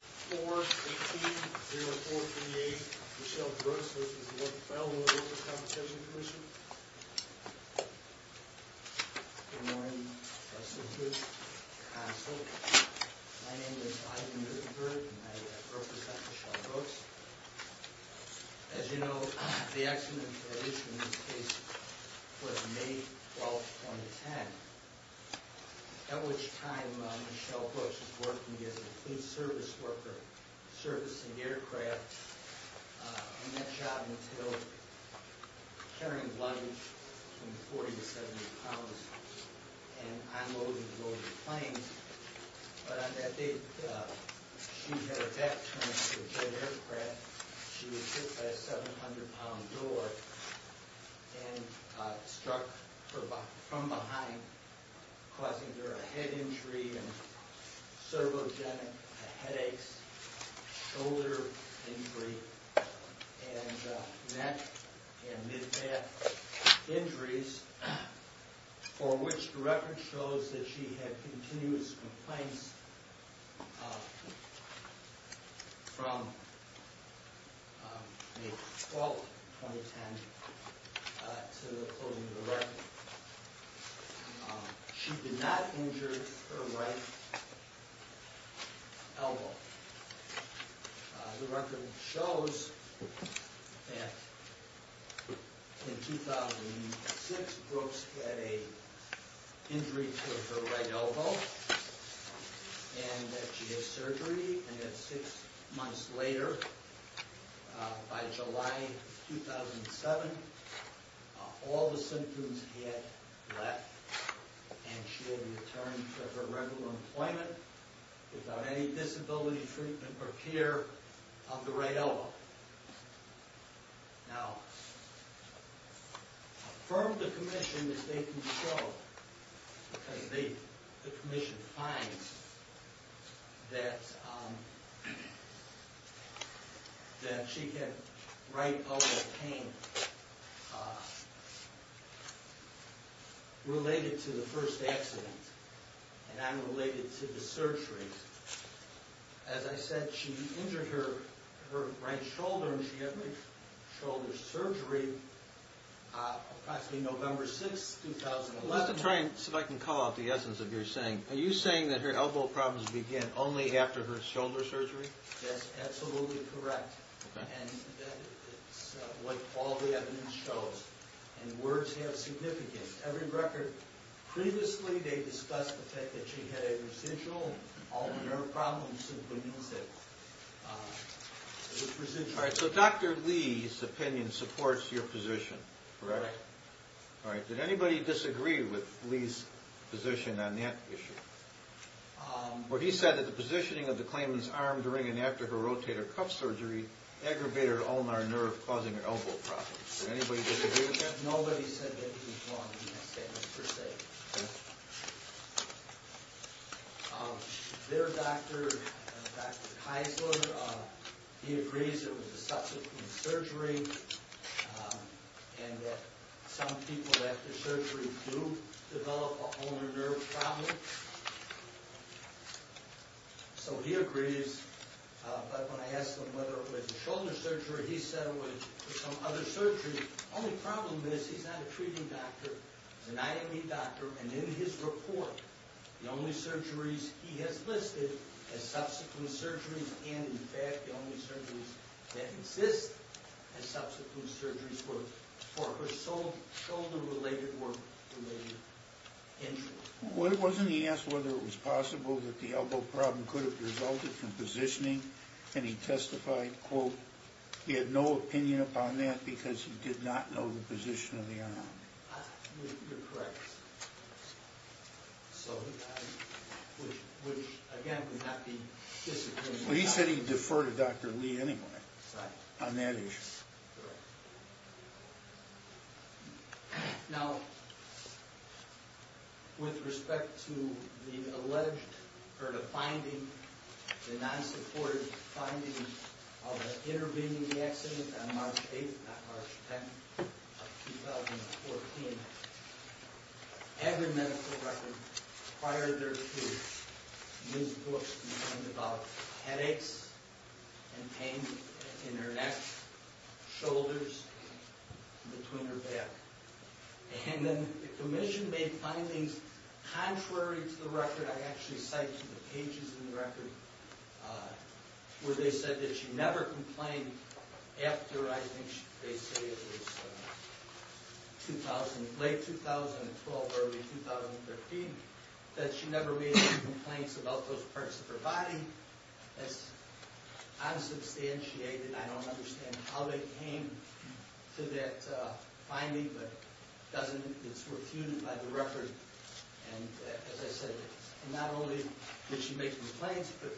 4-18-0438. Michelle Brooks, this is the Workers' Federal Workers' Compensation Commission. Good morning, Professor Hoot, Counsel. My name is Ivan Hootenburg, and I represent Michelle Brooks. As you know, the accident in this case was May 12, 2010, at which time Michelle Brooks was working as a police service worker. Servicing aircraft, and that job entailed carrying luggage from 40 to 70 pounds, and unloading and loading planes. But on that day, she had a back trauma to a jet aircraft. She was hit by a 700-pound door and struck from behind, causing her a head injury and cervogenic headaches, shoulder injury, and neck and mid-back injuries, for which the record shows that she had continuous complaints from May 12, 2010 to the closing of the record. She did not injure her right elbow. The record shows that in 2006, Brooks had an injury to her right elbow, and that she had surgery, and that six months later, by July 2007, all the symptoms had left, and she had returned to her regular employment without any disability treatment or care of the right elbow. Now, from the commission, as they can show, because the commission finds that she had right elbow pain related to the first accident, and unrelated to the surgery, as I said, she injured her right shoulder, and she had shoulder surgery approximately November 6, 2011. Let me try and see if I can call out the essence of what you're saying. Are you saying that her elbow problems began only after her shoulder surgery? That's absolutely correct, and that's what all the evidence shows, and the words have significance. Every record previously, they discussed the fact that she had a residual, and all of her problems simply means that it was residual. All right, so Dr. Lee's opinion supports your position, correct? Right. All right, did anybody disagree with Lee's position on that issue? Well, he said that the positioning of the claimant's arm during and after her rotator cuff surgery aggravated her ulnar nerve, causing her elbow problems. Did anybody disagree with that? Nobody said that he was wrong in that statement, per se. Okay. Their doctor, Dr. Keisler, he agrees it was a subsequent surgery, and that some people after surgery do develop a ulnar nerve problem. So he agrees, but when I asked him whether it was a shoulder surgery, he said it was some other surgery. The only problem is, he's not a treating doctor, he's an IME doctor, and in his report, the only surgeries he has listed as subsequent surgeries, and in fact, the only surgeries that exist as subsequent surgeries were for her shoulder-related or related injuries. Wasn't he asked whether it was possible that the elbow problem could have resulted from positioning? And he testified, quote, he had no opinion upon that because he did not know the position of the arm. You're correct. So, which again, would not be disagreeable. Well, he said he'd defer to Dr. Lee anyway on that issue. Correct. Now, with respect to the alleged, or the finding, the non-supported finding of her intervening in the accident on March 8th, not March 10th, 2014, every medical record required there to be news books written about headaches and pain in her neck, shoulders, between her back. And then the commission made findings contrary to the record, I actually cite to the pages of the record, where they said that she never complained after, I think they say it was late 2012, early 2013, that she never made any complaints about those parts of her body. That's unsubstantiated. I don't understand how they came to that finding, but it's refuted by the record. And as I said, not only did she make complaints, but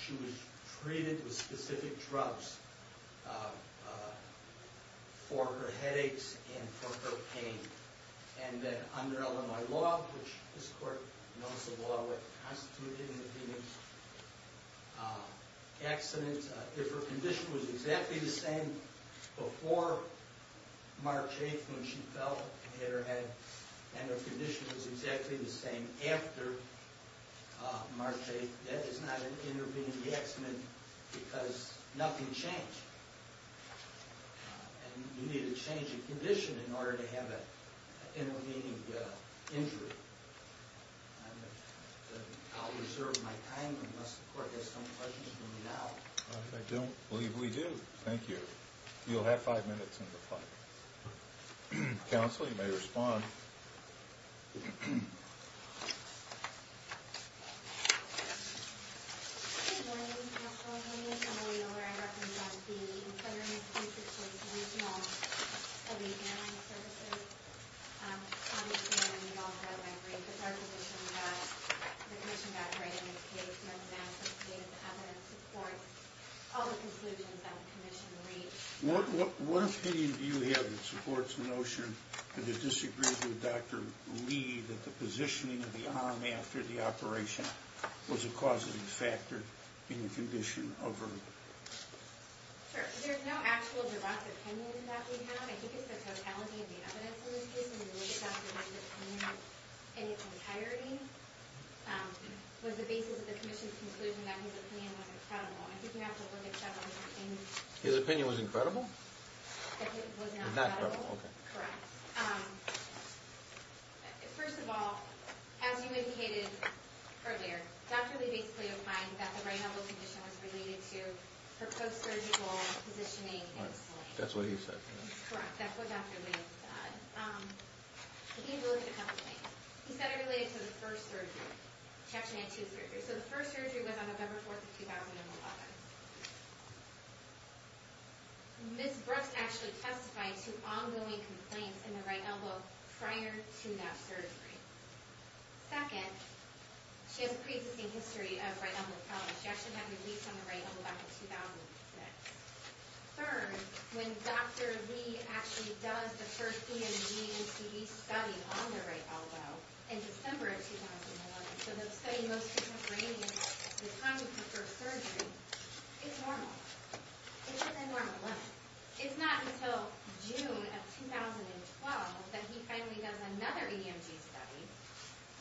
she was treated with specific drugs for her headaches and for her pain. And then under Illinois law, which this court knows the law constituted in the Phoenix accident, if her condition was exactly the same before March 8th when she fell and had her head, and her condition was exactly the same after March 8th, that is not an intervening accident because nothing changed. And you need to change a condition in order to have an intervening injury. I'll reserve my time unless the court has some questions for me now. I don't believe we do. Thank you. You'll have five minutes on the clock. Counsel, you may respond. Good morning, Counselor Haynes. I'm a lawyer. I represent the Employer and Employee Protection Commission of the Airline Services. Obviously, I'm involved throughout my brief. It's our position that the Commission backgraded Ms. Davis. Ms. Davis has evidence to support all the conclusions that the Commission reached. What opinion do you have that supports the notion that it disagrees with Dr. Lee that the positioning of the arm after the operation was a causative factor in the condition of her? Sure. There's no actual direct opinion that we have. I think it's the totality of the evidence in this case and the way Dr. Lee's opinion in its entirety was the basis of the Commission's conclusion that his opinion was incredible. I think we have to look at several different things. His opinion was incredible? It was not incredible. Correct. First of all, as you indicated earlier, Dr. Lee basically opined that the right elbow condition was related to her post-surgical positioning and solution. That's what he said. Correct. That's what Dr. Lee said. We need to look at a couple things. He said it related to the first surgery. She actually had two surgeries. The first surgery was on November 4, 2011. Ms. Brooks actually testified to ongoing complaints in the right elbow prior to that surgery. Second, she has a pre-existing history of right elbow problems. She actually had a release on the right elbow back in 2006. Third, when Dr. Lee actually does the first EMG and TB study on the right elbow in December of 2011, so the study most contemporaneous to the time of her first surgery, it's normal. It's within normal limits. It's not until June of 2012 that he finally does another EMG study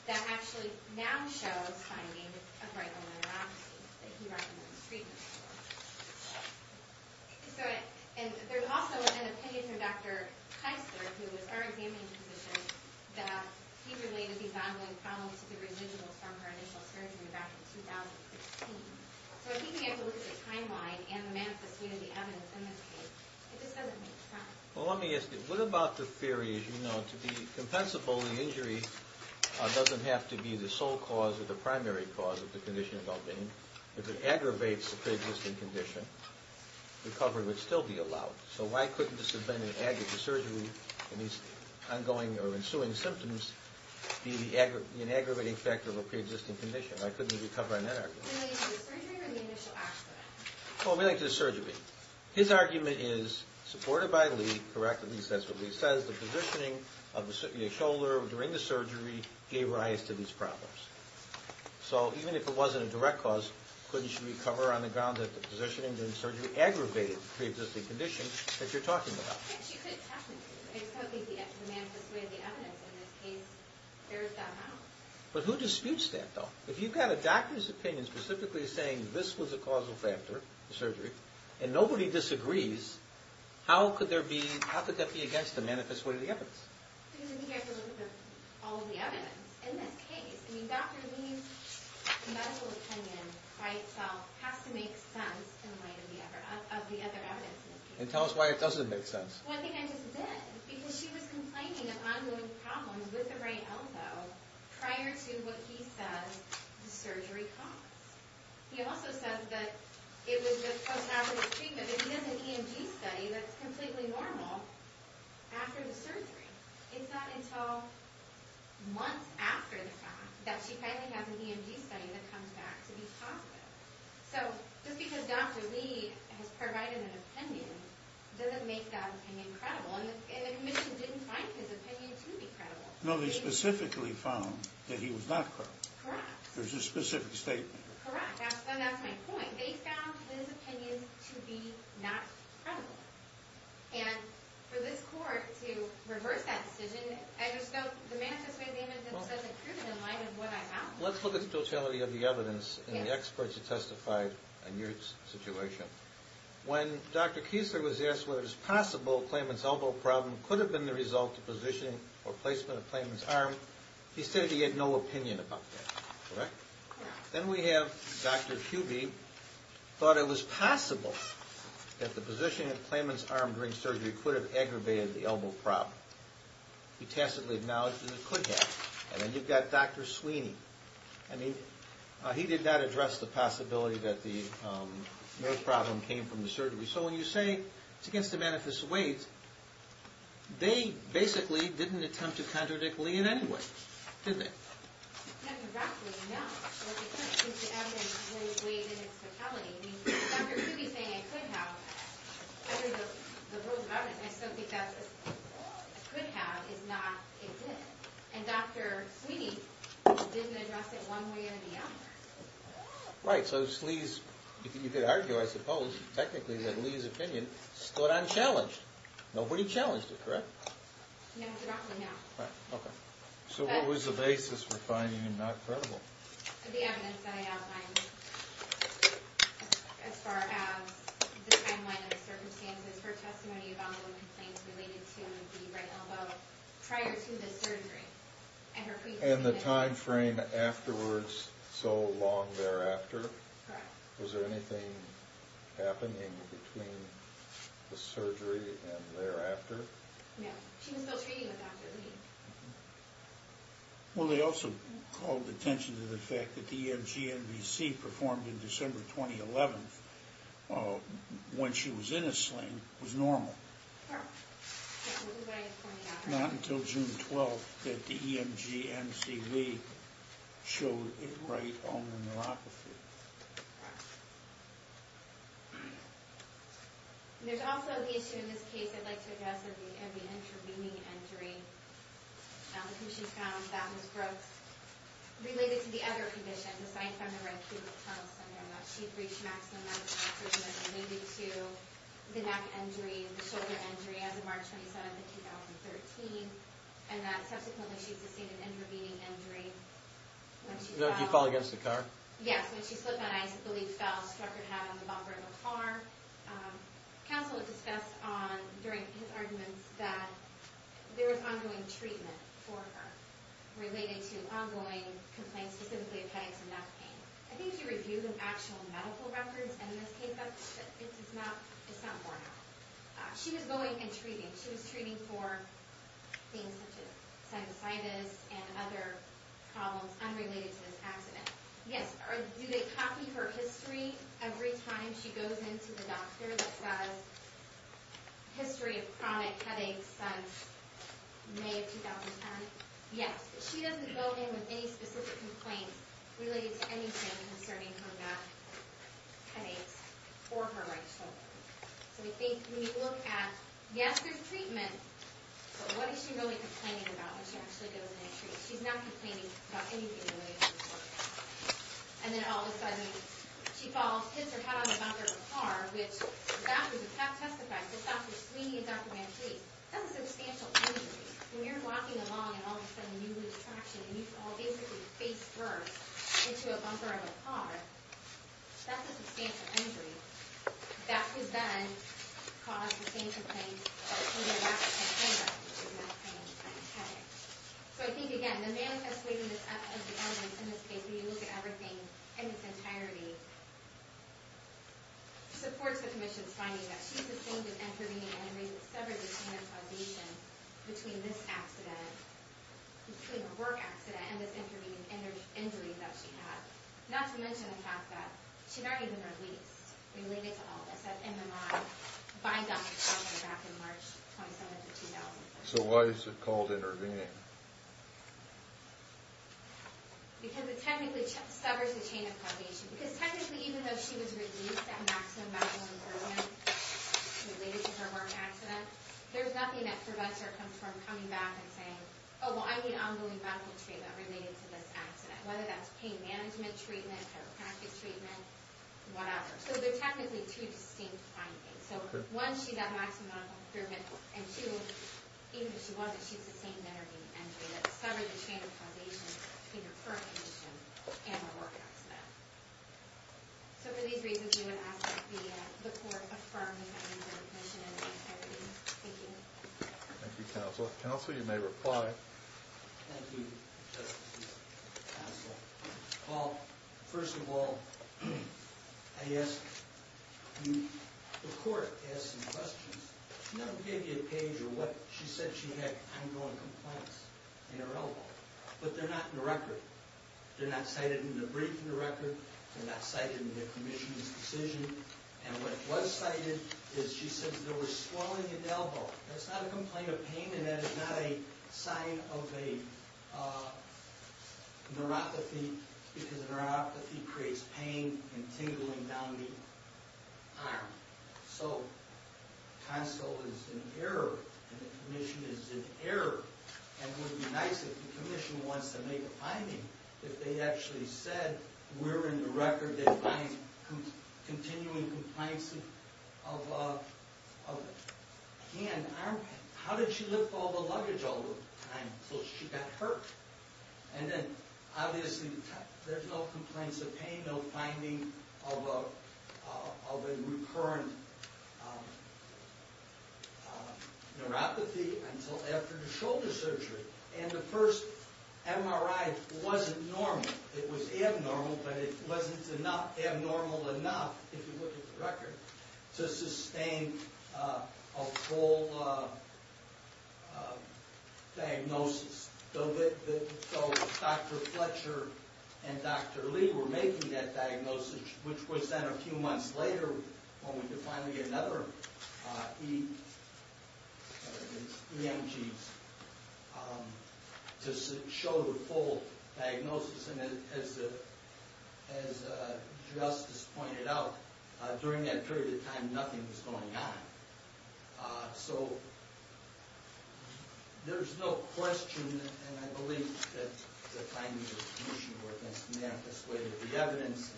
that actually now shows findings of right elbow neuropathy that he recommends treatment for. There's also an opinion from Dr. Keister, who was our examining physician, that he related these ongoing problems to the residuals from her initial surgery back in 2016. So I think we have to look at the timeline and the manifest state of the evidence in this case. It just doesn't make sense. Well, let me ask you, what about the theory, as you know, to be compensable, the injury doesn't have to be the sole cause or the primary cause of the condition of Albany. If it aggravates the pre-existing condition, recovery would still be allowed. So why couldn't this have been an aggravated surgery and these ongoing or ensuing symptoms be an aggravating factor of a pre-existing condition? Why couldn't he recover on that argument? Related to the surgery or the initial accident? Related to the surgery. His argument is, supported by Lee, correct, at least that's what Lee says, the positioning of the shoulder during the surgery gave rise to these problems. So even if it wasn't a direct cause, couldn't she recover on the grounds that the positioning during the surgery aggravated the pre-existing condition that you're talking about? Yes, you could technically. I just don't think the manifest way of the evidence in this case bears that out. But who disputes that, though? If you've got a doctor's opinion specifically saying this was a causal factor, the surgery, and nobody disagrees, how could that be against the manifest way of the evidence? Because if you have to look at all of the evidence in this case, I mean, Dr. Lee's medical opinion by itself has to make sense in light of the other evidence. And tell us why it doesn't make sense. Well, I think I just did. Because she was complaining of ongoing problems with the right elbow prior to what he says the surgery caused. He also says that it was just post-hazardous treatment. But he does an EMG study that's completely normal after the surgery. It's not until months after the fact that she finally has an EMG study that comes back to be positive. So just because Dr. Lee has provided an opinion doesn't make that opinion credible. And the commission didn't find his opinion to be credible. No, they specifically found that he was not credible. Correct. There's a specific statement. Correct, and that's my point. They found his opinion to be not credible. And for this court to reverse that decision, I just don't demand this way of dealing with it. It doesn't prove it in light of what I have. Let's look at the totality of the evidence and the experts who testified on your situation. When Dr. Kiesler was asked whether it was possible a claimant's elbow problem could have been the result of positioning or placement of a claimant's arm, he said he had no opinion about that. Correct? Correct. Then we have Dr. Kuby thought it was possible that the position of the claimant's arm during surgery could have aggravated the elbow problem. He tacitly acknowledged that it could have. And then you've got Dr. Sweeney. He did not address the possibility that the nerve problem came from the surgery. So when you say it's against the benefits of weight, they basically didn't attempt to contradict Lee in any way, did they? No. Well, because the evidence was weighted in totality. I mean, Dr. Kuby's saying it could have. I mean, the rules about it, I still think that could have is not a good. And Dr. Sweeney didn't address it one way or the other. Right. So Slee's, you could argue, I suppose, technically that Lee's opinion stood unchallenged. Nobody challenged it, correct? No, Dr. Rockley, no. Right. Okay. So what was the basis for finding it not credible? The evidence that I outlined as far as the timeline of the circumstances, her testimony about the complaints related to the right elbow prior to the surgery. And the time frame afterwards, so long thereafter? Correct. Was there anything happening between the surgery and thereafter? No. She was still treating with Dr. Lee. Well, they also called attention to the fact that the EMG NVC performed in December 2011, when she was in a sling, was normal. Correct. That was what I was pointing out. Not until June 12th that the EMG NCV showed it right on the neuropathy. And there's also the issue in this case, I'd like to address, of the intervening injury. Because she found that was related to the other condition, the sign from the acute tunnel syndrome. That she'd reached maximum medical treatment related to the neck injury and the shoulder injury as of March 27th of 2013. And that subsequently she sustained an intervening injury. Did she fall against the car? Yes. When she slipped on ice, the leaf fell, struck her head on the bumper of the car. Counsel had discussed during his arguments that there was ongoing treatment for her related to ongoing complaints specifically of headaches and neck pain. I think he reviewed the actual medical records in this case, but it's not borne out. She was going and treating. She was treating for things such as sinusitis and other problems unrelated to this accident. Yes. Do they copy her history every time she goes into the doctor that says history of chronic headaches since May of 2010? Yes. She doesn't go in with any specific complaints related to anything concerning her neck headaches or her right shoulder. So we think when you look at, yes there's treatment, but what is she really complaining about when she actually goes in and treats? She's not complaining about anything related to this work. And then all of a sudden she falls, hits her head on the bumper of the car, which the doctors have testified, the doctors, Sweeney and Dr. Van Cleef, that's a substantial injury. When you're walking along and all of a sudden you lose traction and you all basically face first into a bumper of a car, that's a substantial injury. That was then caused by the same complaints related to neck pain and headaches. So I think, again, the manifest way of the evidence in this case, when you look at everything in its entirety, supports the commission's finding that she sustained an intervening injury that severed the chain of causation between this accident, between the work accident and this intervening injury that she had, not to mention the fact that she's not even released related to all of this, that MMI by Dr. Sweeney back in March of 2007. So why is it called intervening? Because it technically severs the chain of causation. Because technically even though she was released at maximum medical improvement related to her work accident, there's nothing that prevents her from coming back and saying, oh, well, I need ongoing medical treatment related to this accident, whether that's pain management treatment, chiropractic treatment, whatever. So there are technically two distinct findings. So one, she's at maximum medical improvement, and two, even if she wasn't, she sustained an intervening injury that severed the chain of causation between her current condition and her work accident. So for these reasons, we would ask that the court affirm the findings of the commission in its entirety. Thank you. Thank you, counsel. Counsel, you may reply. Thank you, Justice. Counsel, well, first of all, I ask you, the court asked some questions. She never gave you a page of what she said she had ongoing complaints in her elbow. But they're not in the record. They're not cited in the brief in the record. They're not cited in the commission's decision. And what was cited is she said there was swelling in the elbow. That's not a complaint of pain, and that is not a sign of a neuropathy, because neuropathy creates pain and tingling down the arm. So counsel is in error, and the commission is in error. And it would be nice if the commission wants to make a finding if they actually said we're in the record. They find continuing compliance of hand, arm pain. How did she lift all the luggage all the time until she got hurt? And then, obviously, there's no complaints of pain, no finding of a recurrent neuropathy until after the shoulder surgery. And the first MRI wasn't normal. It was abnormal, but it wasn't abnormal enough, if you look at the record, to sustain a full diagnosis. So Dr. Fletcher and Dr. Lee were making that diagnosis, which was then a few months later when we could finally get another EMG to show the full diagnosis. And as Justice pointed out, during that period of time, nothing was going on. So there's no question, and I believe that the timing of the commission were against me. I'm just waiting for the evidence.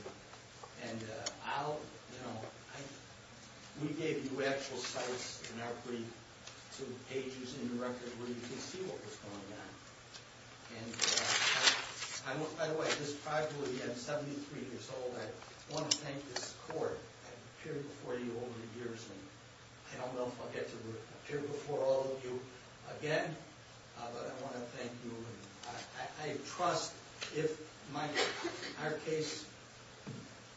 We gave you actual sites in our brief to pages in the record where you can see what was going on. By the way, just privately, I'm 73 years old. I want to thank this court. I've appeared before you over the years, and I don't know if I'll get to appear before all of you again, but I want to thank you. I trust if my case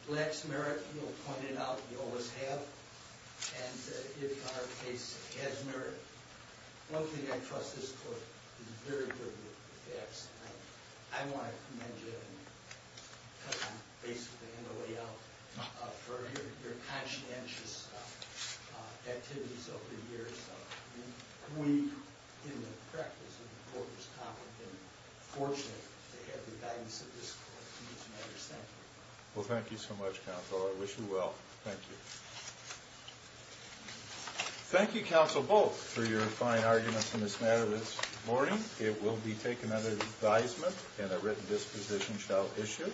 lacks merit, you'll point it out. You always have. And if our case has merit, one thing I trust this court is very good facts. I want to commend you, because I'm basically in the way out, for your conscientious activities over the years. We, in the practice of the Court of Common, have been fortunate to have the guidance of this court in these matters. Thank you. Well, thank you so much, Counselor. I wish you well. Thank you. Thank you, Counsel Bolt, for your fine arguments in this matter this morning. It will be taken under advisement, and a written disposition shall issue.